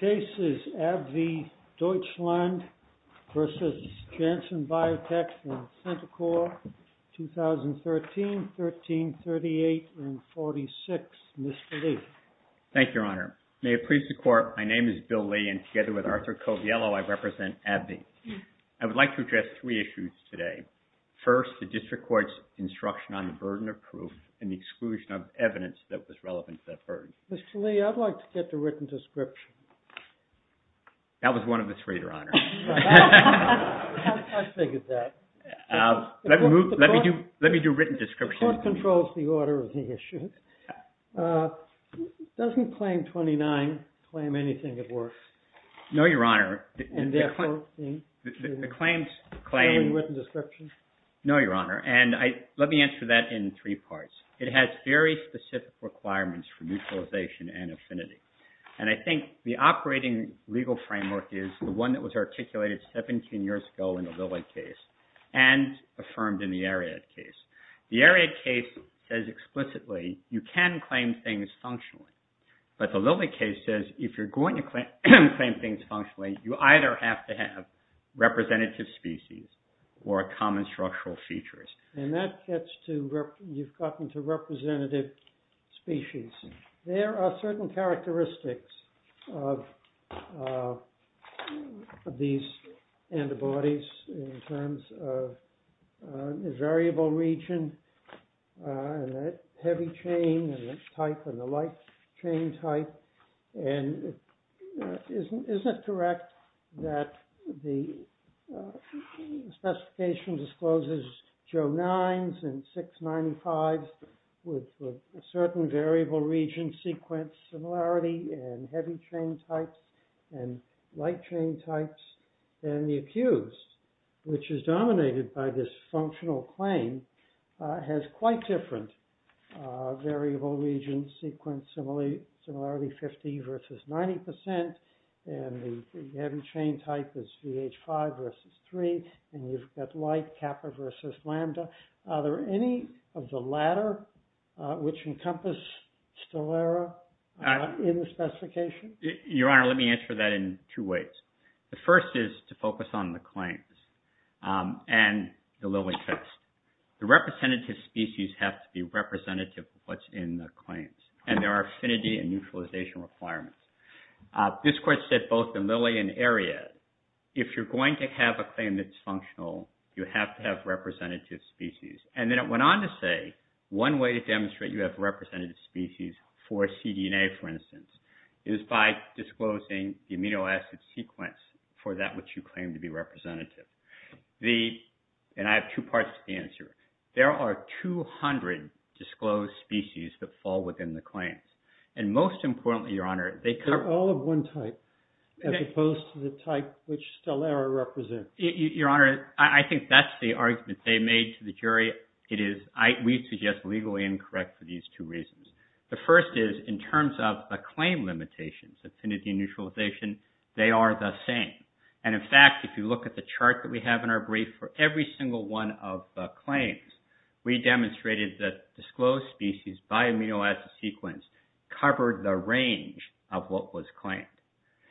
www.janssenbiotech.com v. Janssen Biotech, Inc. 2013-13-38-46 Mr. Lee Thank you, Your Honor. May it please the Court, my name is Bill Lee and together with Arthur Coviello, I represent AbbVie. I would like to address three issues today. First, the District Court's instruction on the burden of proof and the exclusion of evidence that was relevant to that burden. Mr. Lee, I'd like to get the written description. That was one of the three, Your Honor. I figured that. Let me do written description. The Court controls the order of the issues. Doesn't Claim 29 claim anything at work? No, Your Honor. And therefore? No, Your Honor. And let me answer that in three parts. It has very specific requirements for mutualization and affinity. And I think the operating legal framework is the one that was articulated 17 years ago in the Lilly case and affirmed in the Ariad case. The Ariad case says explicitly you can claim things functionally. But the Lilly case says if you're going to claim things functionally, you either have to have representative species or common structural features. And that gets to, you've gotten to representative species. There are certain characteristics of these antibodies in terms of the variable region and the heavy chain type and the light chain type. And isn't it correct that the specification discloses Joe 9s and 695s with a certain variable region sequence similarity and heavy chain types and light chain types? And the accused, which is dominated by this functional claim, has quite different variable region sequence similarity, 50 versus 90 percent. And the heavy chain type is VH5 versus 3. And you've got light, kappa versus lambda. Are there any of the latter which encompass STELERA in the specification? Your Honor, let me answer that in two ways. The first is to focus on the claims and the Lilly case. The representative species have to be representative of what's in the claims. And there are affinity and neutralization requirements. This court said both in Lilly and Ariad, if you're going to have a claim that's functional, you have to have representative species. And then it went on to say one way to demonstrate you have representative species for cDNA, for instance, is by disclosing the amino acid sequence for that which you claim to be representative. And I have two parts to the answer. There are 200 disclosed species that fall within the claims. And most importantly, Your Honor, they cover... They're all of one type as opposed to the type which STELERA represents. Your Honor, I think that's the argument they made to the jury. It is, we suggest, legally incorrect for these two reasons. The first is in terms of the claim limitations, affinity and neutralization, they are the same. And in fact, if you look at the chart that we have in our brief for every single one of the claims, we demonstrated that disclosed species by amino acid sequence covered the range of what was claimed.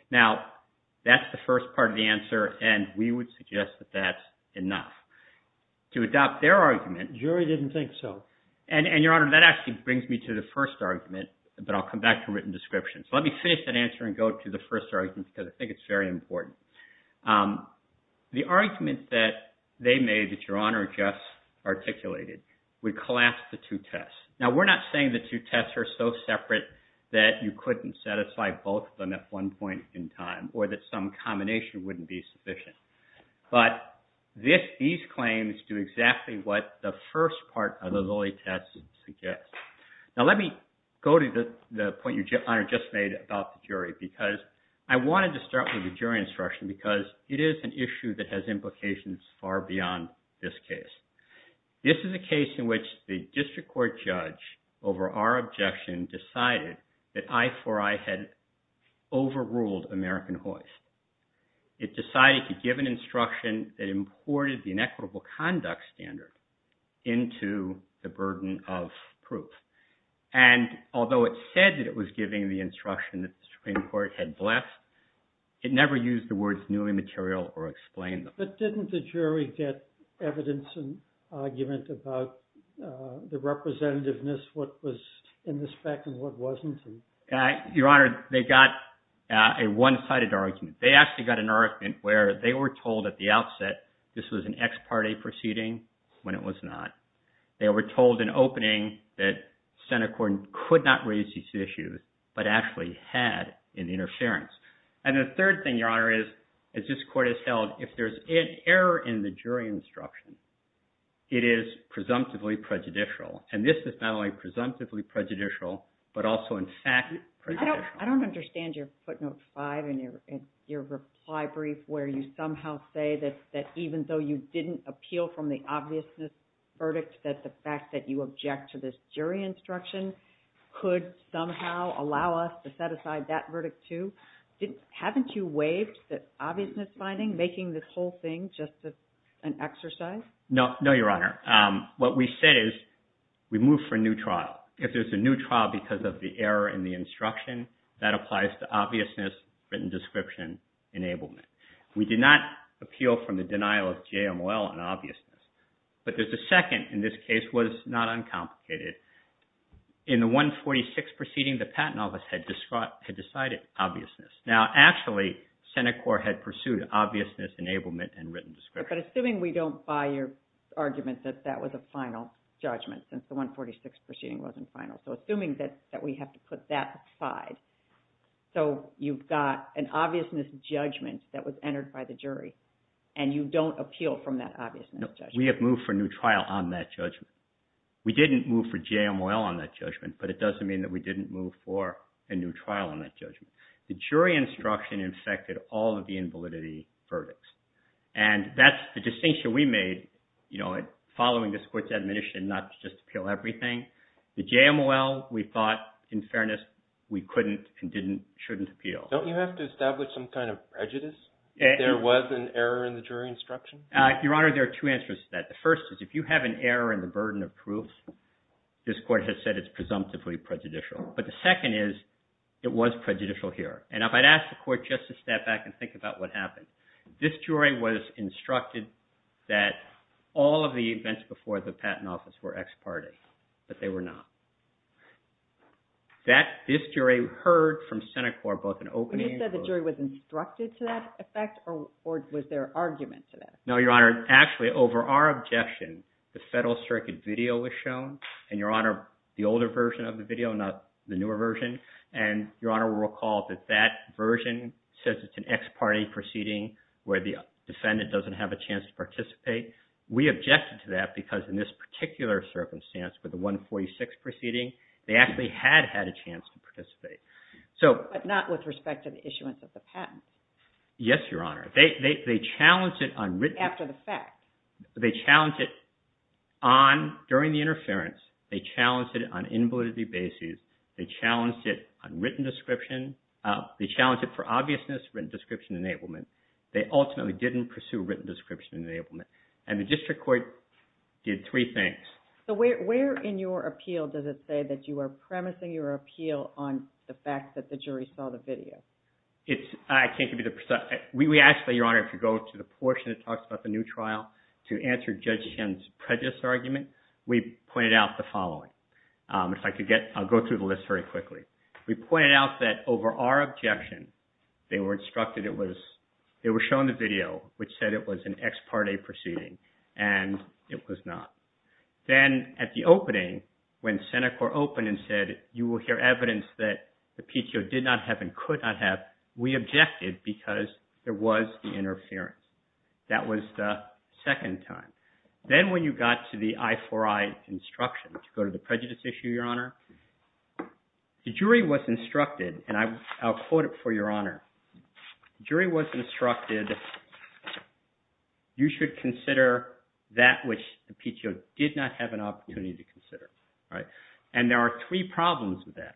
Now, that's the first part of the answer, and we would suggest that that's enough. To adopt their argument... The jury didn't think so. And, Your Honor, that actually brings me to the first argument, but I'll come back to written descriptions. Let me finish that answer and go to the first argument because I think it's very important. The argument that they made that Your Honor just articulated would collapse the two tests. Now, we're not saying the two tests are so separate that you couldn't set aside both of them at one point in time or that some combination wouldn't be sufficient. But these claims do exactly what the first part of the Lilly test suggests. Now, let me go to the point Your Honor just made about the jury because I wanted to start with the jury instruction because it is an issue that has implications far beyond this case. This is a case in which the district court judge, over our objection, decided that I4I had overruled American hoist. It decided to give an instruction that imported the inequitable conduct standard into the burden of proof. And although it said that it was giving the instruction that the Supreme Court had bleft, it never used the words new immaterial or explained them. But didn't the jury get evidence and argument about the representativeness, what was in this fact and what wasn't? Your Honor, they got a one-sided argument. They actually got an argument where they were told at the outset this was an ex parte proceeding when it was not. They were told in opening that Senate court could not raise these issues but actually had an interference. And the third thing, Your Honor, is as this court has held, if there's an error in the jury instruction, it is presumptively prejudicial. And this is not only presumptively prejudicial but also in fact prejudicial. I don't understand your footnote 5 in your reply brief where you somehow say that even though you didn't appeal from the obviousness verdict, that the fact that you object to this jury instruction could somehow allow us to set aside that verdict too. Haven't you waived the obviousness finding, making this whole thing just an exercise? No, Your Honor. What we said is we move for a new trial. If there's a new trial because of the error in the instruction, that applies to obviousness, written description, enablement. We did not appeal from the denial of JMOL and obviousness. But the second in this case was not uncomplicated. In the 146 proceeding, the Patent Office had decided obviousness. Now, actually, Senate court had pursued obviousness, enablement, and written description. But assuming we don't buy your argument that that was a final judgment since the 146 proceeding wasn't final, so assuming that we have to put that aside, so you've got an obviousness judgment that was entered by the jury and you don't appeal from that obviousness judgment. No, we have moved for a new trial on that judgment. We didn't move for JML on that judgment, but it doesn't mean that we didn't move for a new trial on that judgment. The jury instruction infected all of the invalidity verdicts. And that's the distinction we made following this court's admonition not to just appeal everything. The JML, we thought, in fairness, we couldn't and shouldn't appeal. Don't you have to establish some kind of prejudice if there was an error in the jury instruction? Your Honor, there are two answers to that. The first is if you have an error in the burden of proof, this court has said it's presumptively prejudicial. But the second is it was prejudicial here. And if I'd asked the court just to step back and think about what happened, this jury was instructed that all of the events before the Patent Office were ex parte, but they were not. This jury heard from Senate Court both an opening... When you said the jury was instructed to that effect, or was there argument to that? No, Your Honor. Actually, over our objection, the Federal Circuit video was shown. And, Your Honor, the older version of the video, not the newer version. And, Your Honor, we'll recall that that version says it's an ex parte proceeding where the defendant doesn't have a chance to participate. We objected to that because in this particular circumstance, with the 146 proceeding, they actually had had a chance to participate. But not with respect to the issuance of the patent. Yes, Your Honor. They challenged it on written... After the fact. They challenged it during the interference. They challenged it on invalidity basis. They challenged it on written description. They challenged it for obviousness, written description enablement. They ultimately didn't pursue written description enablement. And the district court did three things. So where in your appeal does it say that you are premising your appeal on the fact that the jury saw the video? I can't give you the... We asked that, Your Honor, if you go to the portion that talks about the new trial to answer Judge Shen's prejudice argument. We pointed out the following. If I could get... I'll go through the list very quickly. We pointed out that over our objection, they were instructed it was... They were shown the video which said it was an ex parte proceeding. And it was not. Then at the opening, when Senate court opened and said you will hear evidence that the PTO did not have and could not have, we objected because there was the interference. That was the second time. Then when you got to the I4I instruction to go to the prejudice issue, Your Honor, the jury was instructed, and I'll quote it for Your Honor. The jury was instructed, you should consider that which the PTO did not have an opportunity to consider. And there are three problems with that.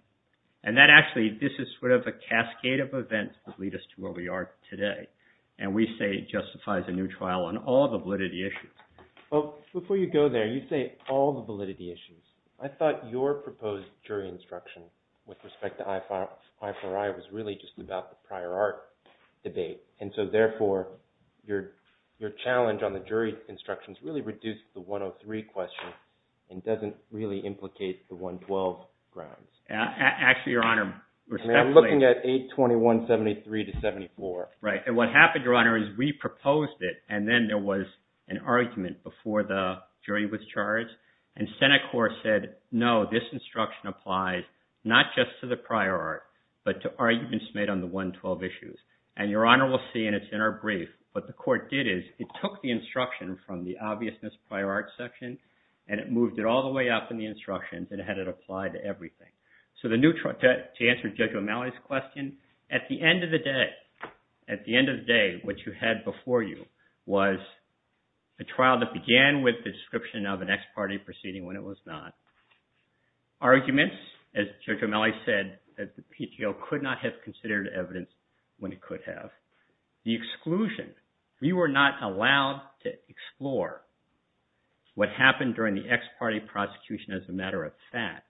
And that actually, this is sort of a cascade of events that lead us to where we are today. And we say it justifies a new trial on all the validity issues. Before you go there, you say all the validity issues. I thought your proposed jury instruction with respect to I4I was really just about the prior art debate. And so therefore, your challenge on the jury instructions really reduced the 103 question and doesn't really implicate the 112 grounds. Actually, Your Honor... I'm looking at 821.73 to 74. Right. And what happened, Your Honor, is we proposed it, and then there was an argument before the jury was charged. And Senate court said, no, this instruction applies not just to the prior art, but to arguments made on the 112 issues. And Your Honor will see in its inner brief what the court did is it took the instruction from the obviousness prior art section, and it moved it all the way up in the instructions and had it apply to everything. So to answer Judge O'Malley's question, at the end of the day, at the end of the day, what you had before you was a trial that began with the description of an ex parte proceeding when it was not. Arguments, as Judge O'Malley said, that the PTO could not have considered evidence when it could have. The exclusion. We were not allowed to explore what happened during the ex parte prosecution as a matter of fact.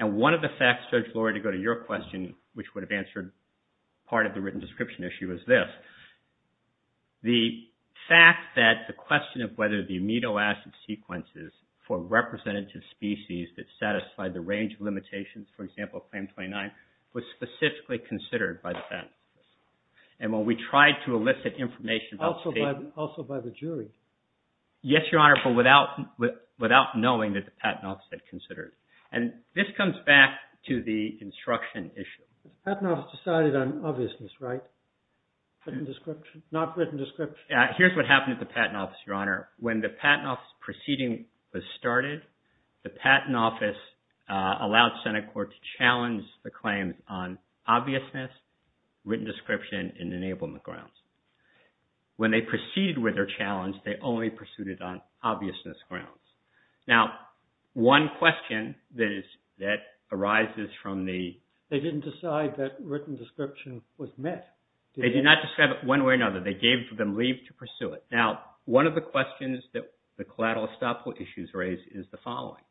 And one of the facts, Judge Lurie, to go to your question, which would have answered part of the written description issue, is this. The fact that the question of whether the amino acid sequences for representative species that satisfied the range of limitations, for example, Claim 29, was specifically considered by the Patent Office. And when we tried to elicit information... Also by the jury. Yes, Your Honor, but without knowing that the Patent Office had considered it. And this comes back to the instruction issue. The Patent Office decided on obviousness, right? Not written description. Here's what happened at the Patent Office, Your Honor. When the Patent Office proceeding was started, the Patent Office allowed Senate Court to challenge the claims on obviousness, written description, and enablement grounds. When they proceeded with their challenge, they only pursued it on obviousness grounds. Now, one question that arises from the... They didn't decide that written description was met. They did not describe it one way or another. They gave them leave to pursue it. Now, one of the questions that the collateral estoppel issues raise is the following.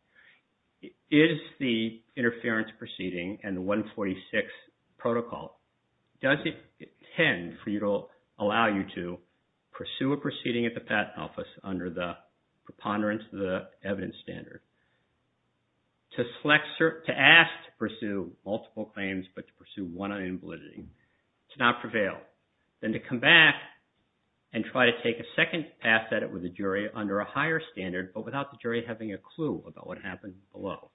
Is the interference proceeding and the 146 protocol... Does it tend for you to allow you to pursue a proceeding at the Patent Office under the preponderance of the evidence standard? To ask to pursue multiple claims but to pursue one on invalidity. To not prevail. Then to come back and try to take a second pass at it with the jury under a higher standard but without the jury having a clue about what happened below.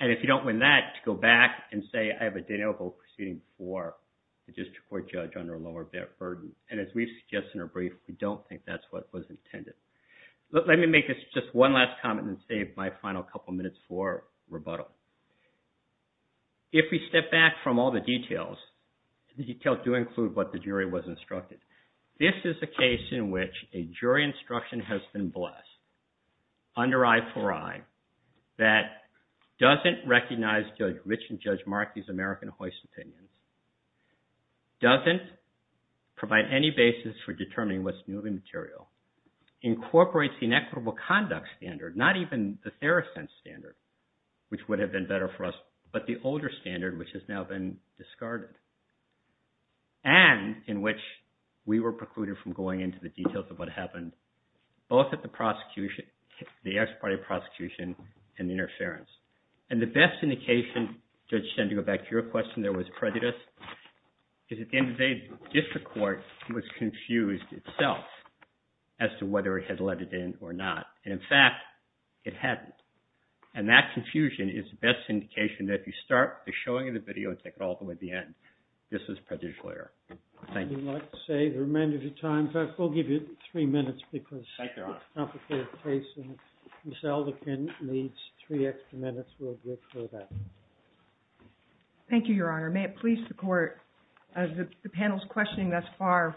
And if you don't win that, to go back and say, I have a denial of oath proceeding for the district court judge under a lower burden. And as we've suggested in our brief, we don't think that's what was intended. Let me make just one last comment and save my final couple minutes for rebuttal. If we step back from all the details, the details do include what the jury was instructed. This is a case in which a jury instruction has been blessed under I4I that doesn't recognize Judge Rich and Judge Markey's American hoist opinions. Doesn't provide any basis for determining what's new in the material. Incorporates the inequitable conduct standard, not even the Theracent standard, which would have been better for us. But the older standard, which has now been discarded. And in which we were precluded from going into the details of what happened. Both at the prosecution, the ex parte prosecution and interference. And the best indication, Judge Sender, to go back to your question, there was prejudice. Because at the end of the day, district court was confused itself as to whether it had let it in or not. And in fact, it hadn't. And that confusion is the best indication that if you start the showing of the video and take it all the way to the end, this was prejudicial error. Thank you. I would like to save the remainder of your time. In fact, we'll give you three minutes because it's a complicated case. Ms. Alderkin needs three extra minutes. We'll give her that. Thank you, Your Honor. May it please the court. As the panel's questioning thus far,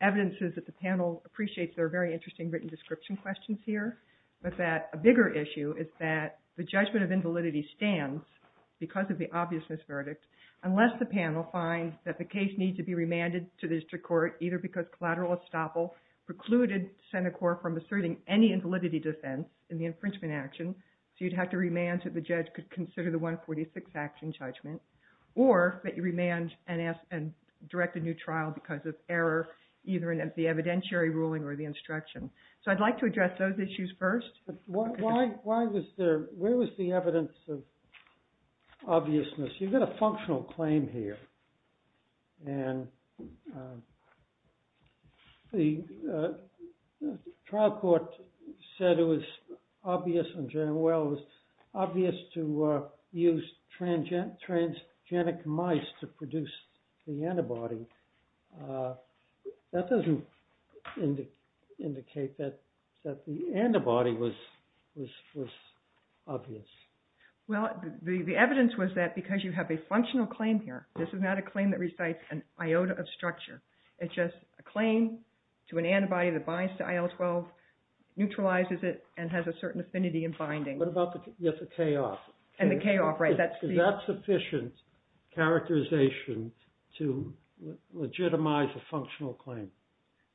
evidence is that the panel appreciates there are very interesting written description questions here. But that a bigger issue is that the judgment of invalidity stands because of the obviousness verdict. Unless the panel finds that the case needs to be remanded to the district court, either because collateral estoppel precluded Senate Court from asserting any invalidity defense in the infringement action. So you'd have to remand that the judge could consider the 146 action judgment. Or that you remand and direct a new trial because of error, either in the evidentiary ruling or the instruction. So I'd like to address those issues first. Why was there, where was the evidence of obviousness? You've got a functional claim here. And the trial court said it was obvious, and Jan Well was obvious to use transgenic mice to produce the antibody. That doesn't indicate that the antibody was obvious. Well, the evidence was that because you have a functional claim here, this is not a claim that recites an iota of structure. It's just a claim to an antibody that binds to IL-12, neutralizes it, and has a certain affinity in binding. What about the K-off? And the K-off, right. Is that sufficient characterization to legitimize a functional claim?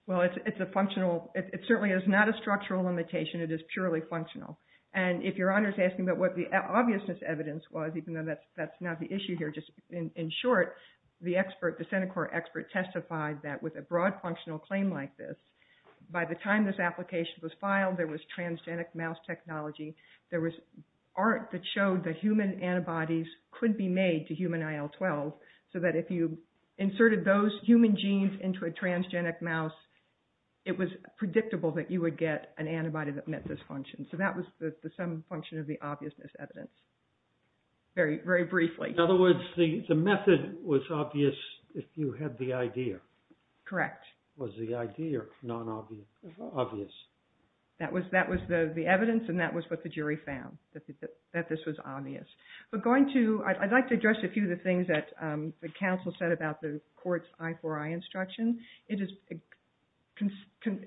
Well, it's a functional, it certainly is not a structural limitation. It is purely functional. And if Your Honor is asking about what the obviousness evidence was, even though that's not the issue here, just in short, the expert, the Senate Court expert testified that with a broad functional claim like this, by the time this application was filed, there was transgenic mouse technology, there was art that showed that human antibodies could be made to human IL-12, so that if you inserted those human genes into a transgenic mouse, it was predictable that you would get an antibody that met this function. So that was some function of the obviousness evidence, very briefly. In other words, the method was obvious if you had the idea? Correct. Was the idea obvious? That was the evidence, and that was what the jury found, that this was obvious. I'd like to address a few of the things that the counsel said about the court's I-IV-I instruction. It is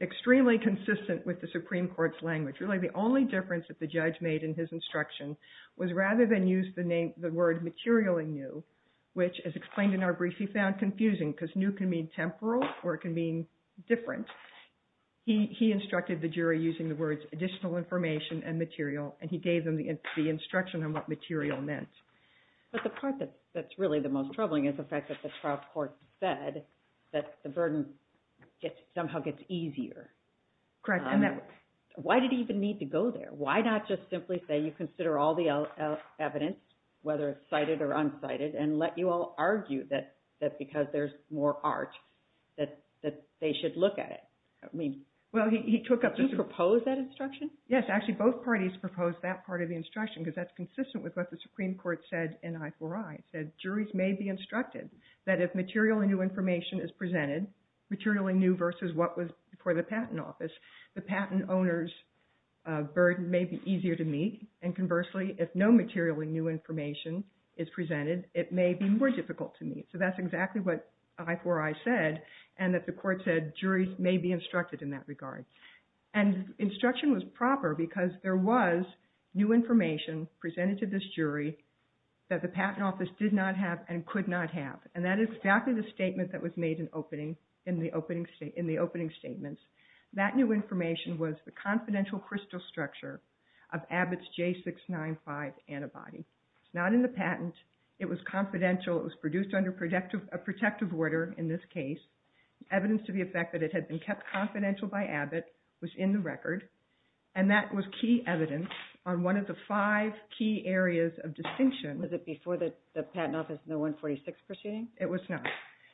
extremely consistent with the Supreme Court's language. Really, the only difference that the judge made in his instruction was rather than use the word materially new, which, as explained in our brief, he found confusing, because new can mean temporal, or it can mean different. He instructed the jury using the words additional information and material, and he gave them the instruction on what material meant. But the part that's really the most troubling is the fact that the trial court said that the burden somehow gets easier. Correct. Why did he even need to go there? Why not just simply say you consider all the evidence, whether it's cited or uncited, and let you all argue that because there's more art, that they should look at it? Did you propose that instruction? Yes. Actually, both parties proposed that part of the instruction, because that's consistent with what the Supreme Court said in I-IV-I. It said juries may be instructed that if materially new information is presented, materially new versus what was before the patent office, the patent owner's burden may be easier to meet, and conversely, if no materially new information is presented, it may be more difficult to meet. So that's exactly what I-IV-I said, and that the court said juries may be instructed in that regard. And instruction was proper, because there was new information presented to this jury that the patent office did not have and could not have, and that is exactly the statement that was made in the opening statements. That new information was the confidential crystal structure of Abbott's J695 antibody. It's not in the patent. It was confidential. It was produced under a protective order in this case. Evidence to the effect that it had been kept confidential by Abbott was in the record, and that was key evidence on one of the five key areas of distinction. Was it before the patent office in the I-46 proceeding? It was not.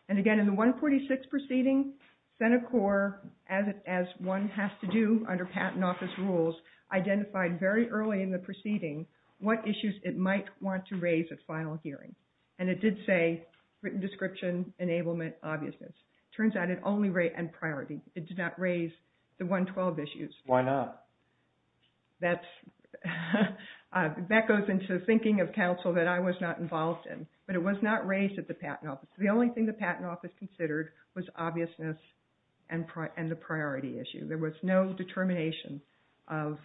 And again, in the I-46 proceeding, Senate core, as one has to do under patent office rules, identified very early in the proceeding what issues it might want to raise at final hearing, and it did say written description, enablement, obviousness. It turns out it only raised priority. It did not raise the I-12 issues. Why not? That goes into thinking of counsel that I was not involved in, but it was not raised at the patent office. The only thing the patent office considered was obviousness and the priority issue. There was no determination of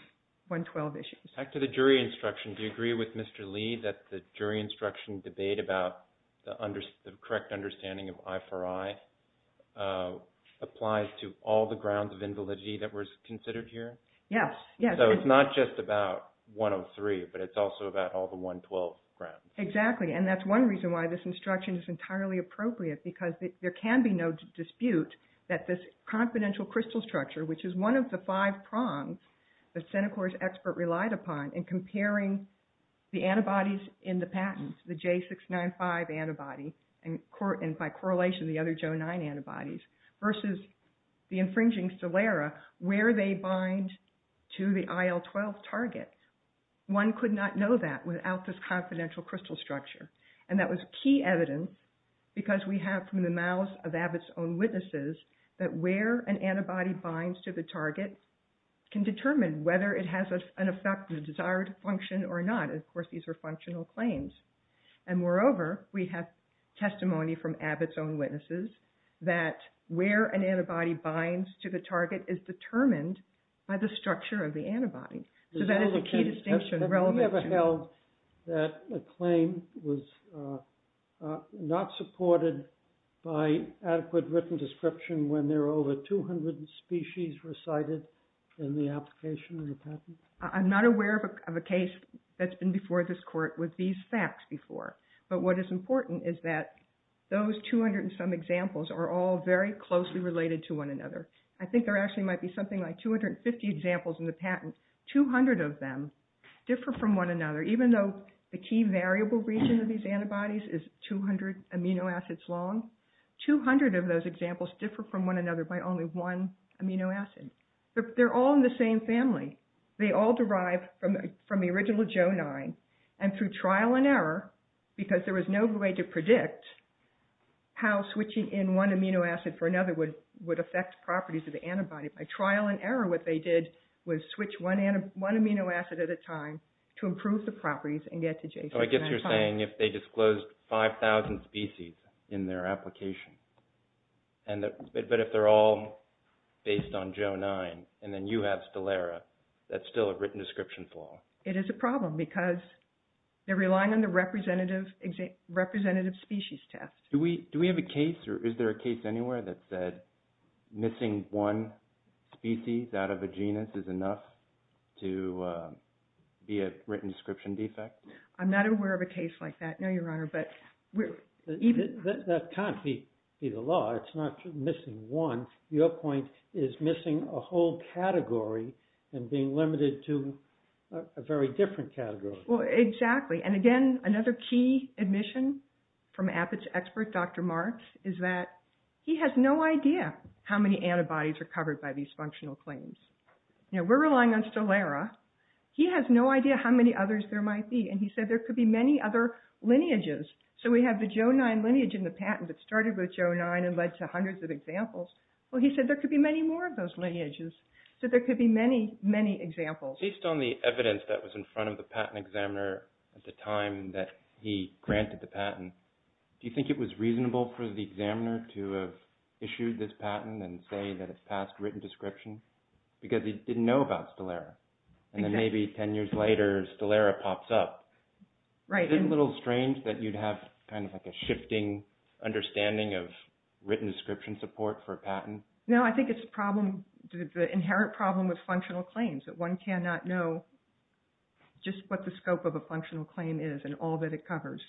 I-12 issues. Back to the jury instruction, do you agree with Mr. Lee that the jury instruction debate about the correct understanding of I4I applies to all the grounds of invalidity that were considered here? Yes. So it's not just about 103, but it's also about all the I-12 grounds. Exactly, and that's one reason why this instruction is entirely appropriate, because there can be no dispute that this confidential crystal structure, which is one of the five prongs that Senate core's expert relied upon in comparing the antibodies in the patent, the J695 antibody, and by correlation, the other J09 antibodies, versus the infringing Celera, where they bind to the I-12 target. One could not know that without this confidential crystal structure, and that was key evidence because we have, from the mouths of Abbott's own witnesses, that where an antibody binds to the target can determine whether it has an effect, a desired function or not, and, of course, these are functional claims. And, moreover, we have testimony from Abbott's own witnesses that where an antibody binds to the target is determined by the structure of the antibody. So that is a key distinction. Have you ever held that a claim was not supported by adequate written description when there are over 200 species recited in the application of the patent? I'm not aware of a case that's been before this court with these facts before, but what is important is that those 200 and some examples are all very closely related to one another. I think there actually might be something like 250 examples in the patent. Two hundred of them differ from one another. Even though the key variable region of these antibodies is 200 amino acids long, 200 of those examples differ from one another by only one amino acid. They're all in the same family. They all derive from the original J09, and through trial and error, because there was no way to predict how switching in one amino acid for another would affect properties of the antibody. By trial and error, what they did was switch one amino acid at a time to improve the properties and get to J09. So I guess you're saying if they disclosed 5,000 species in their application, but if they're all based on J09 and then you have Stelara, that's still a written description flaw. It is a problem because they're relying on the representative species test. Do we have a case, or is there a case anywhere that said missing one species out of a genus is enough to be a written description defect? I'm not aware of a case like that, no, Your Honor. That can't be the law. It's not missing one. Your point is missing a whole category and being limited to a very different category. Well, exactly, and again, another key admission from APIT's expert, Dr. Marks, is that he has no idea how many antibodies are covered by these functional claims. You know, we're relying on Stelara. He has no idea how many others there might be, and he said there could be many other lineages. So we have the J09 lineage in the patent that started with J09 and led to hundreds of examples. Well, he said there could be many more of those lineages, so there could be many, many examples. Based on the evidence that was in front of the patent examiner at the time that he granted the patent, do you think it was reasonable for the examiner to have issued this patent and say that it's past written description? Because he didn't know about Stelara, and then maybe 10 years later, Stelara pops up. Isn't it a little strange that you'd have kind of like a shifting understanding of written description support for a patent? No, I think it's the inherent problem with functional claims, that one cannot know just what the scope of a functional claim is and all that it covers.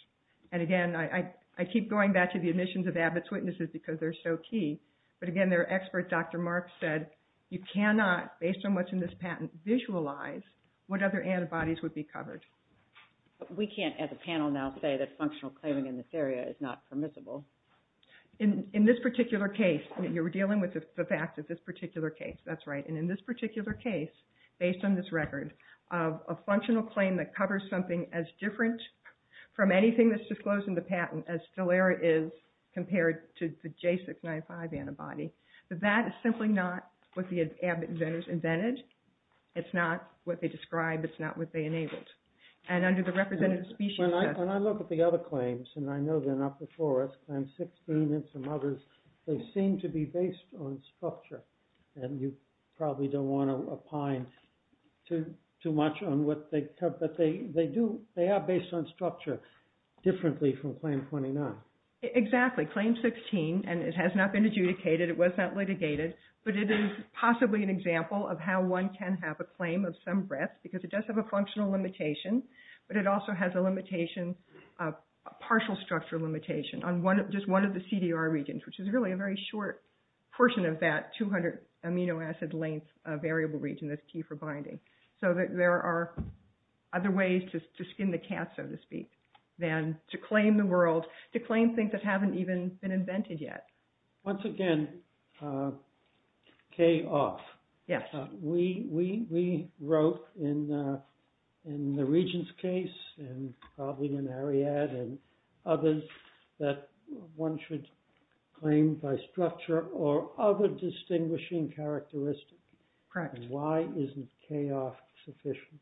And again, I keep going back to the admissions of APIT's witnesses because they're so key, but again, their expert, Dr. Marks, said you cannot, based on what's in this patent, visualize what other antibodies would be covered. But we can't, as a panel now, say that functional claiming in this area is not permissible. In this particular case, you're dealing with the fact that this particular case, that's right, and in this particular case, based on this record, a functional claim that covers something as different from anything that's disclosed in the patent as Stelara is compared to the J695 antibody, that that is simply not what the inventors invented. It's not what they described. It's not what they enabled. And under the representative species test... When I look at the other claims, and I know they're not before us, Claim 16 and some others, they seem to be based on structure. And you probably don't want to opine too much on what they cover, but they are based on structure differently from Claim 29. Exactly. Claim 16, and it has not been adjudicated. It was not litigated. But it is possibly an example of how one can have a claim of some breadth, because it does have a functional limitation, but it also has a partial structure limitation on just one of the CDR regions, which is really a very short portion of that 200 amino acid length variable region that's key for binding. So there are other ways to skin the cat, so to speak, than to claim the world, to claim things that haven't even been invented yet. Once again, K-off. Yes. We wrote in the region's case, and probably in Ariadne and others, that one should claim by structure or other distinguishing characteristics. Correct. Why isn't K-off sufficient?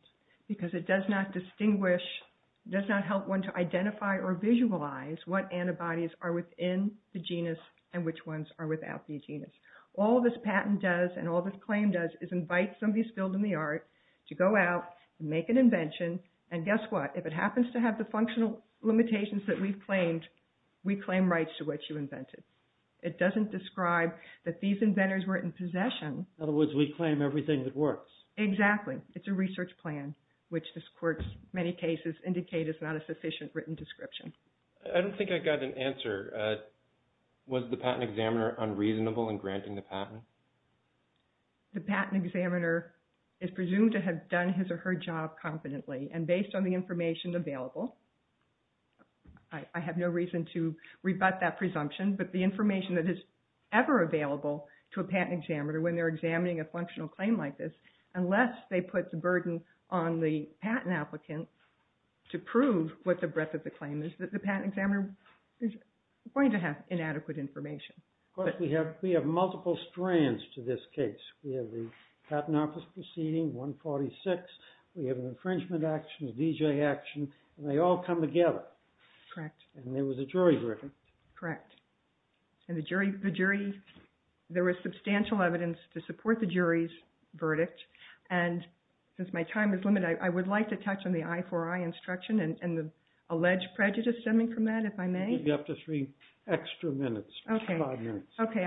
Because it does not distinguish... ...what antibodies are within the genus and which ones are without the genus. All this patent does and all this claim does is invite somebody skilled in the art to go out and make an invention, and guess what? If it happens to have the functional limitations that we've claimed, we claim rights to what you invented. It doesn't describe that these inventors were in possession. In other words, we claim everything that works. Exactly. It's a research plan, which this court's many cases indicate is not a sufficient written description. I don't think I got an answer. Was the patent examiner unreasonable in granting the patent? The patent examiner is presumed to have done his or her job confidently, and based on the information available. I have no reason to rebut that presumption, but the information that is ever available to a patent examiner when they're examining a functional claim like this, unless they put the burden on the patent applicant to prove what the breadth of the claim is, the patent examiner is going to have inadequate information. But we have multiple strands to this case. We have the patent office proceeding, 146. We have an infringement action, a D.J. action, and they all come together. Correct. And there was a jury verdict. Correct. And the jury, there was substantial evidence to support the jury's verdict. And since my time is limited, I would like to touch on the I4I instruction and the alleged prejudice stemming from that, if I may. You have three extra minutes, five minutes. Okay.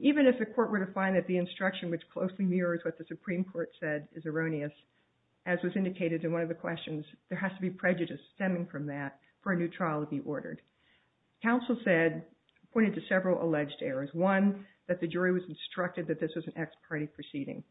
Even if the court were to find that the instruction, which closely mirrors what the Supreme Court said, is erroneous, as was indicated in one of the questions, there has to be prejudice stemming from that for a new trial to be ordered. Counsel said, pointed to several alleged errors. One, that the jury was instructed that this was an ex parte proceeding.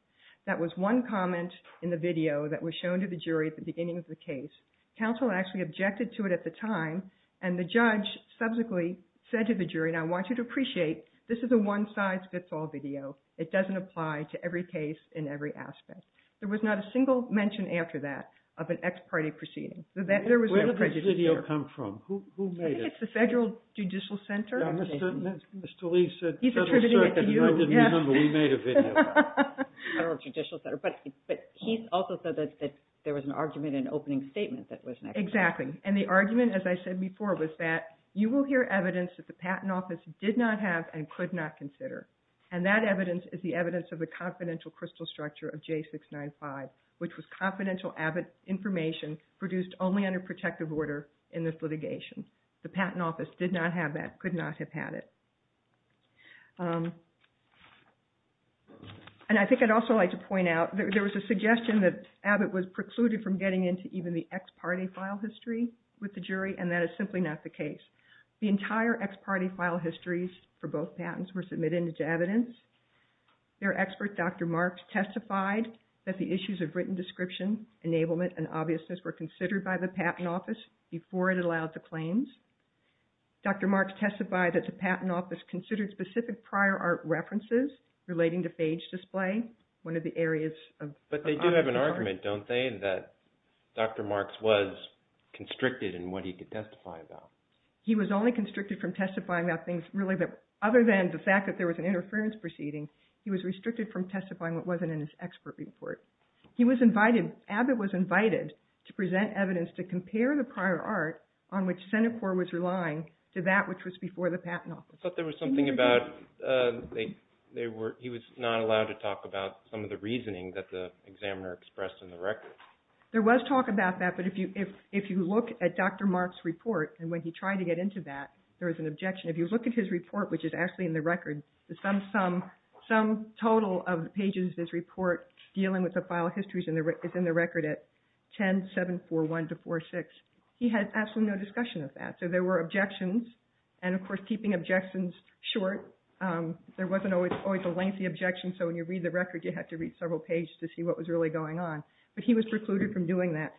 That was one comment in the video that was shown to the jury at the beginning of the case. Counsel actually objected to it at the time, and the judge subsequently said to the jury, and I want you to appreciate, this is a one-size-fits-all video. It doesn't apply to every case in every aspect. There was not a single mention after that of an ex parte proceeding. Where did this video come from? Who made it? I think it's the Federal Judicial Center. Mr. Lee said Federal Circuit, and I didn't remember we made a video. Federal Judicial Center. But he also said that there was an argument in an opening statement that was next. Exactly, and the argument, as I said before, was that you will hear evidence that the Patent Office did not have and could not consider, and that evidence is the evidence of the confidential crystal structure of J695, which was confidential Abbott information produced only under protective order in this litigation. The Patent Office did not have that, could not have had it. And I think I'd also like to point out, there was a suggestion that Abbott was precluded from getting into even the ex parte file history with the jury, and that is simply not the case. The entire ex parte file histories for both patents were submitted into evidence. Their expert, Dr. Marks, testified that the issues of written description, enablement, and obviousness were considered by the Patent Office before it allowed the claims. Dr. Marks testified that the Patent Office considered specific prior art references relating to phage display, one of the areas of... But they do have an argument, don't they, that Dr. Marks was constricted in what he could testify about? He was only constricted from testifying about things really that, other than the fact that there was an interference proceeding, he was restricted from testifying what wasn't in his expert report. He was invited, Abbott was invited, to present evidence to compare the prior art on which Senate Corps was relying to that which was before the Patent Office. But there was something about, he was not allowed to talk about some of the reasoning that the examiner expressed in the record. There was talk about that, but if you look at Dr. Marks' report, and when he tried to get into that, there was an objection. If you look at his report, which is actually in the record, the sum total of pages of his report dealing with the file histories is in the record at 10.741-4.6. He had absolutely no discussion of that. So there were objections, and of course keeping objections short, there wasn't always a lengthy objection, so when you read the record you had to read several pages to see what was really going on. But he was precluded from doing that.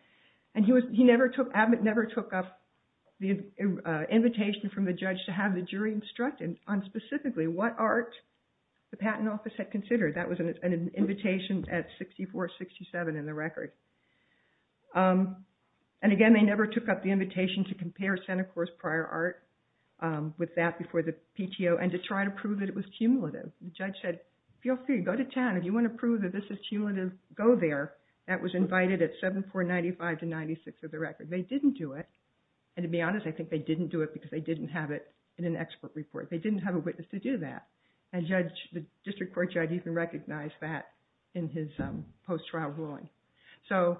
And Abbott never took up the invitation from the judge to have the jury instructed on specifically what art the Patent Office had considered. That was an invitation at 64-67 in the record. And again, they never took up the invitation to compare Senate Corps' prior art with that before the PTO, and to try to prove that it was cumulative. The judge said, feel free, go to 10. If you want to prove that this is cumulative, go there. That was invited at 74-95-96 of the record. They didn't do it. And to be honest, I think they didn't do it because they didn't have it in an expert report. They didn't have a witness to do that. And the district court judge even recognized that in his post-trial ruling. So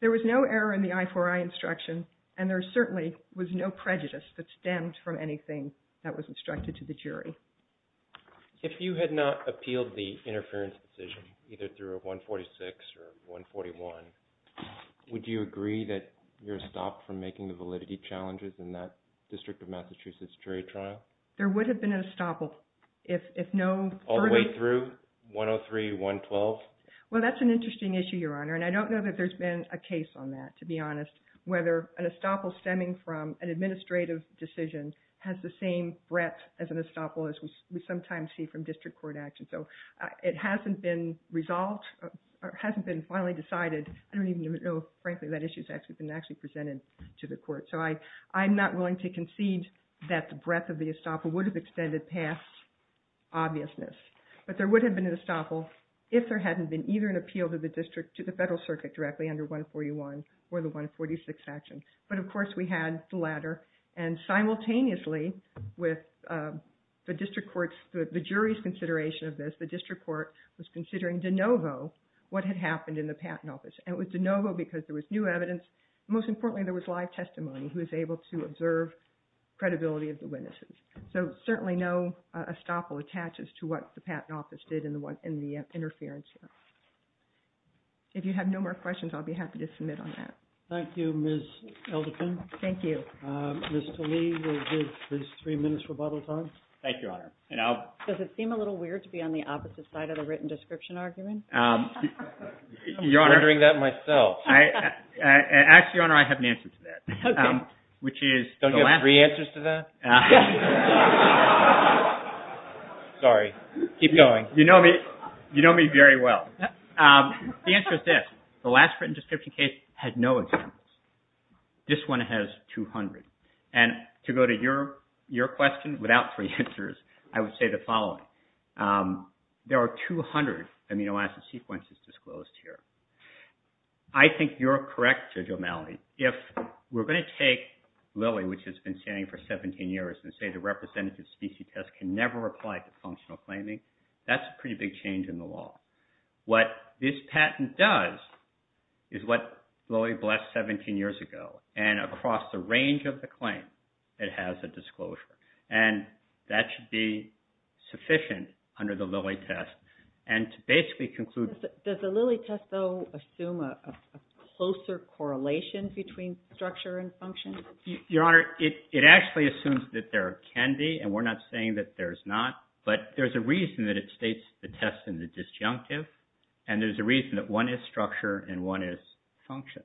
there was no error in the I4I instruction, and there certainly was no prejudice that stemmed from anything that was instructed to the jury. If you had not appealed the interference decision, either through a 146 or a 141, would you agree that you're stopped from making the validity challenges in that District of Massachusetts jury trial? There would have been an estoppel. All the way through 103-112? Well, that's an interesting issue, Your Honor, and I don't know that there's been a case on that, to be honest, whether an estoppel stemming from an administrative decision has the same breadth as an estoppel as we sometimes see from district court action. So it hasn't been resolved or hasn't been finally decided. I don't even know, frankly, if that issue has actually been presented to the court. So I'm not willing to concede that the breadth of the estoppel would have extended past obviousness. But there would have been an estoppel if there hadn't been either an appeal to the district, to the federal circuit directly under 141 or the 146 action. But, of course, we had the latter. And simultaneously with the district court's, the jury's consideration of this, the district court was considering de novo what had happened in the Patent Office. And it was de novo because there was new evidence. Most importantly, there was live testimony who was able to observe credibility of the witnesses. So certainly no estoppel attaches to what the Patent Office did in the interference. If you have no more questions, I'll be happy to submit on that. Thank you, Ms. Elderton. Thank you. Mr. Lee will give his three minutes rebuttal time. Thank you, Your Honor. Does it seem a little weird to be on the opposite side of the written description argument? You're wondering that myself. Actually, Your Honor, I have an answer to that. Don't you have three answers to that? Sorry. Keep going. You know me very well. The answer is this. The last written description case had no examples. This one has 200. And to go to your question without three answers, I would say the following. There are 200 amino acid sequences disclosed here. I think you're correct, Judge O'Malley. If we're going to take Lilly, which has been standing for 17 years, and say the representative specie test can never apply to functional claiming, that's a pretty big change in the law. What this patent does is what Lilly blessed 17 years ago. And across the range of the claim, it has a disclosure. And that should be sufficient under the Lilly test. Does the Lilly test, though, assume a closer correlation between structure and function? Your Honor, it actually assumes that there can be. And we're not saying that there's not. But there's a reason that it states the test in the disjunctive. And there's a reason that one is structure and one is function.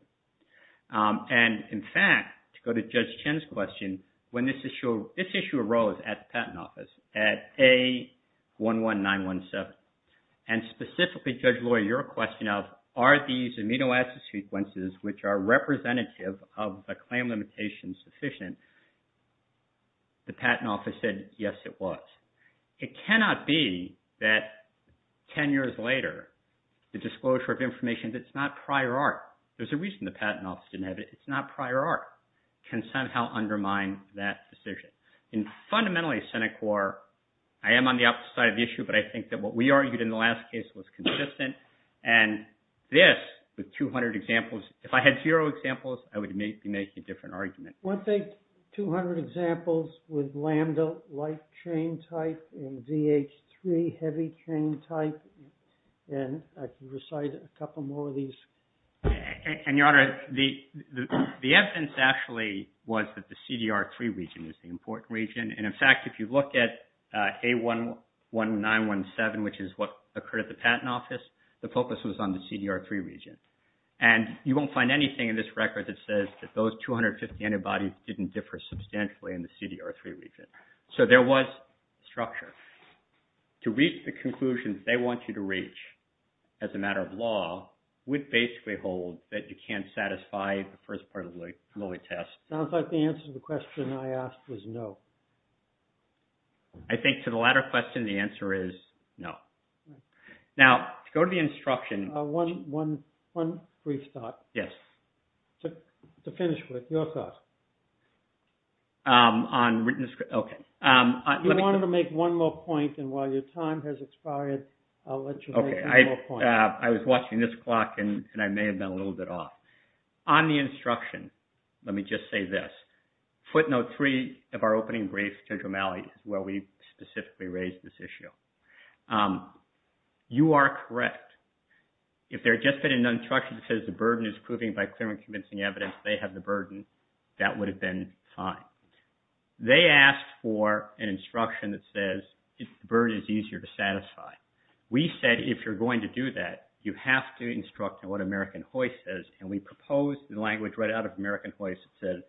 And, in fact, to go to Judge Chin's question, when this issue arose at the Patent Office, at A11917, and specifically, Judge Loy, your question of, are these amino acid sequences which are representative of the claim limitations sufficient, the Patent Office said, yes, it was. It cannot be that 10 years later, the disclosure of information that's not prior art, there's a reason the Patent Office didn't have it, it's not prior art, can somehow undermine that decision. Fundamentally, Senate CORE, I am on the opposite side of the issue, but I think that what we argued in the last case was consistent. And this, with 200 examples, if I had zero examples, I would be making a different argument. One thing, 200 examples with lambda light chain type and VH3 heavy chain type. And I can recite a couple more of these. And, Your Honor, the evidence actually was that the CDR3 region is the important region. And, in fact, if you look at A11917, which is what occurred at the Patent Office, the focus was on the CDR3 region. And you won't find anything in this record that says that those 250 antibodies didn't differ substantially in the CDR3 region. So there was structure. To reach the conclusions they want you to reach, as a matter of law, would basically hold that you can't satisfy the first part of the Lillie test. It sounds like the answer to the question I asked was no. I think to the latter question, the answer is no. Now, to go to the instruction... One brief thought. Yes. To finish with, your thoughts. On written... You wanted to make one more point, and while your time has expired, I'll let you make one more point. I was watching this clock, and I may have been a little bit off. On the instruction, let me just say this. Footnote 3 of our opening brief to Jomali, where we specifically raised this issue. You are correct. If there had just been an instruction that says the burden is proving by clear and convincing evidence, they have the burden, that would have been fine. They asked for an instruction that says the burden is easier to satisfy. We said if you're going to do that, you have to instruct on what American hoist says, and we proposed the language right out of American hoist that says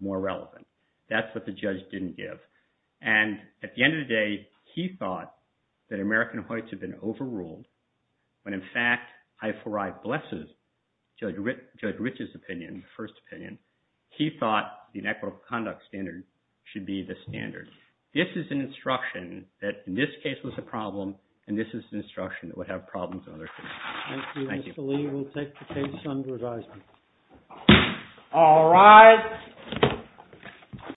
more relevant. That's what the judge didn't give. And at the end of the day, he thought that American hoists had been overruled, when, in fact, I4I blesses Judge Rich's opinion, the first opinion. He thought the inequitable conduct standard should be the standard. This is an instruction that, in this case, was a problem, and this is an instruction that would have problems in other cases. Thank you, Mr. Lee. We'll take the case under advisement. All rise.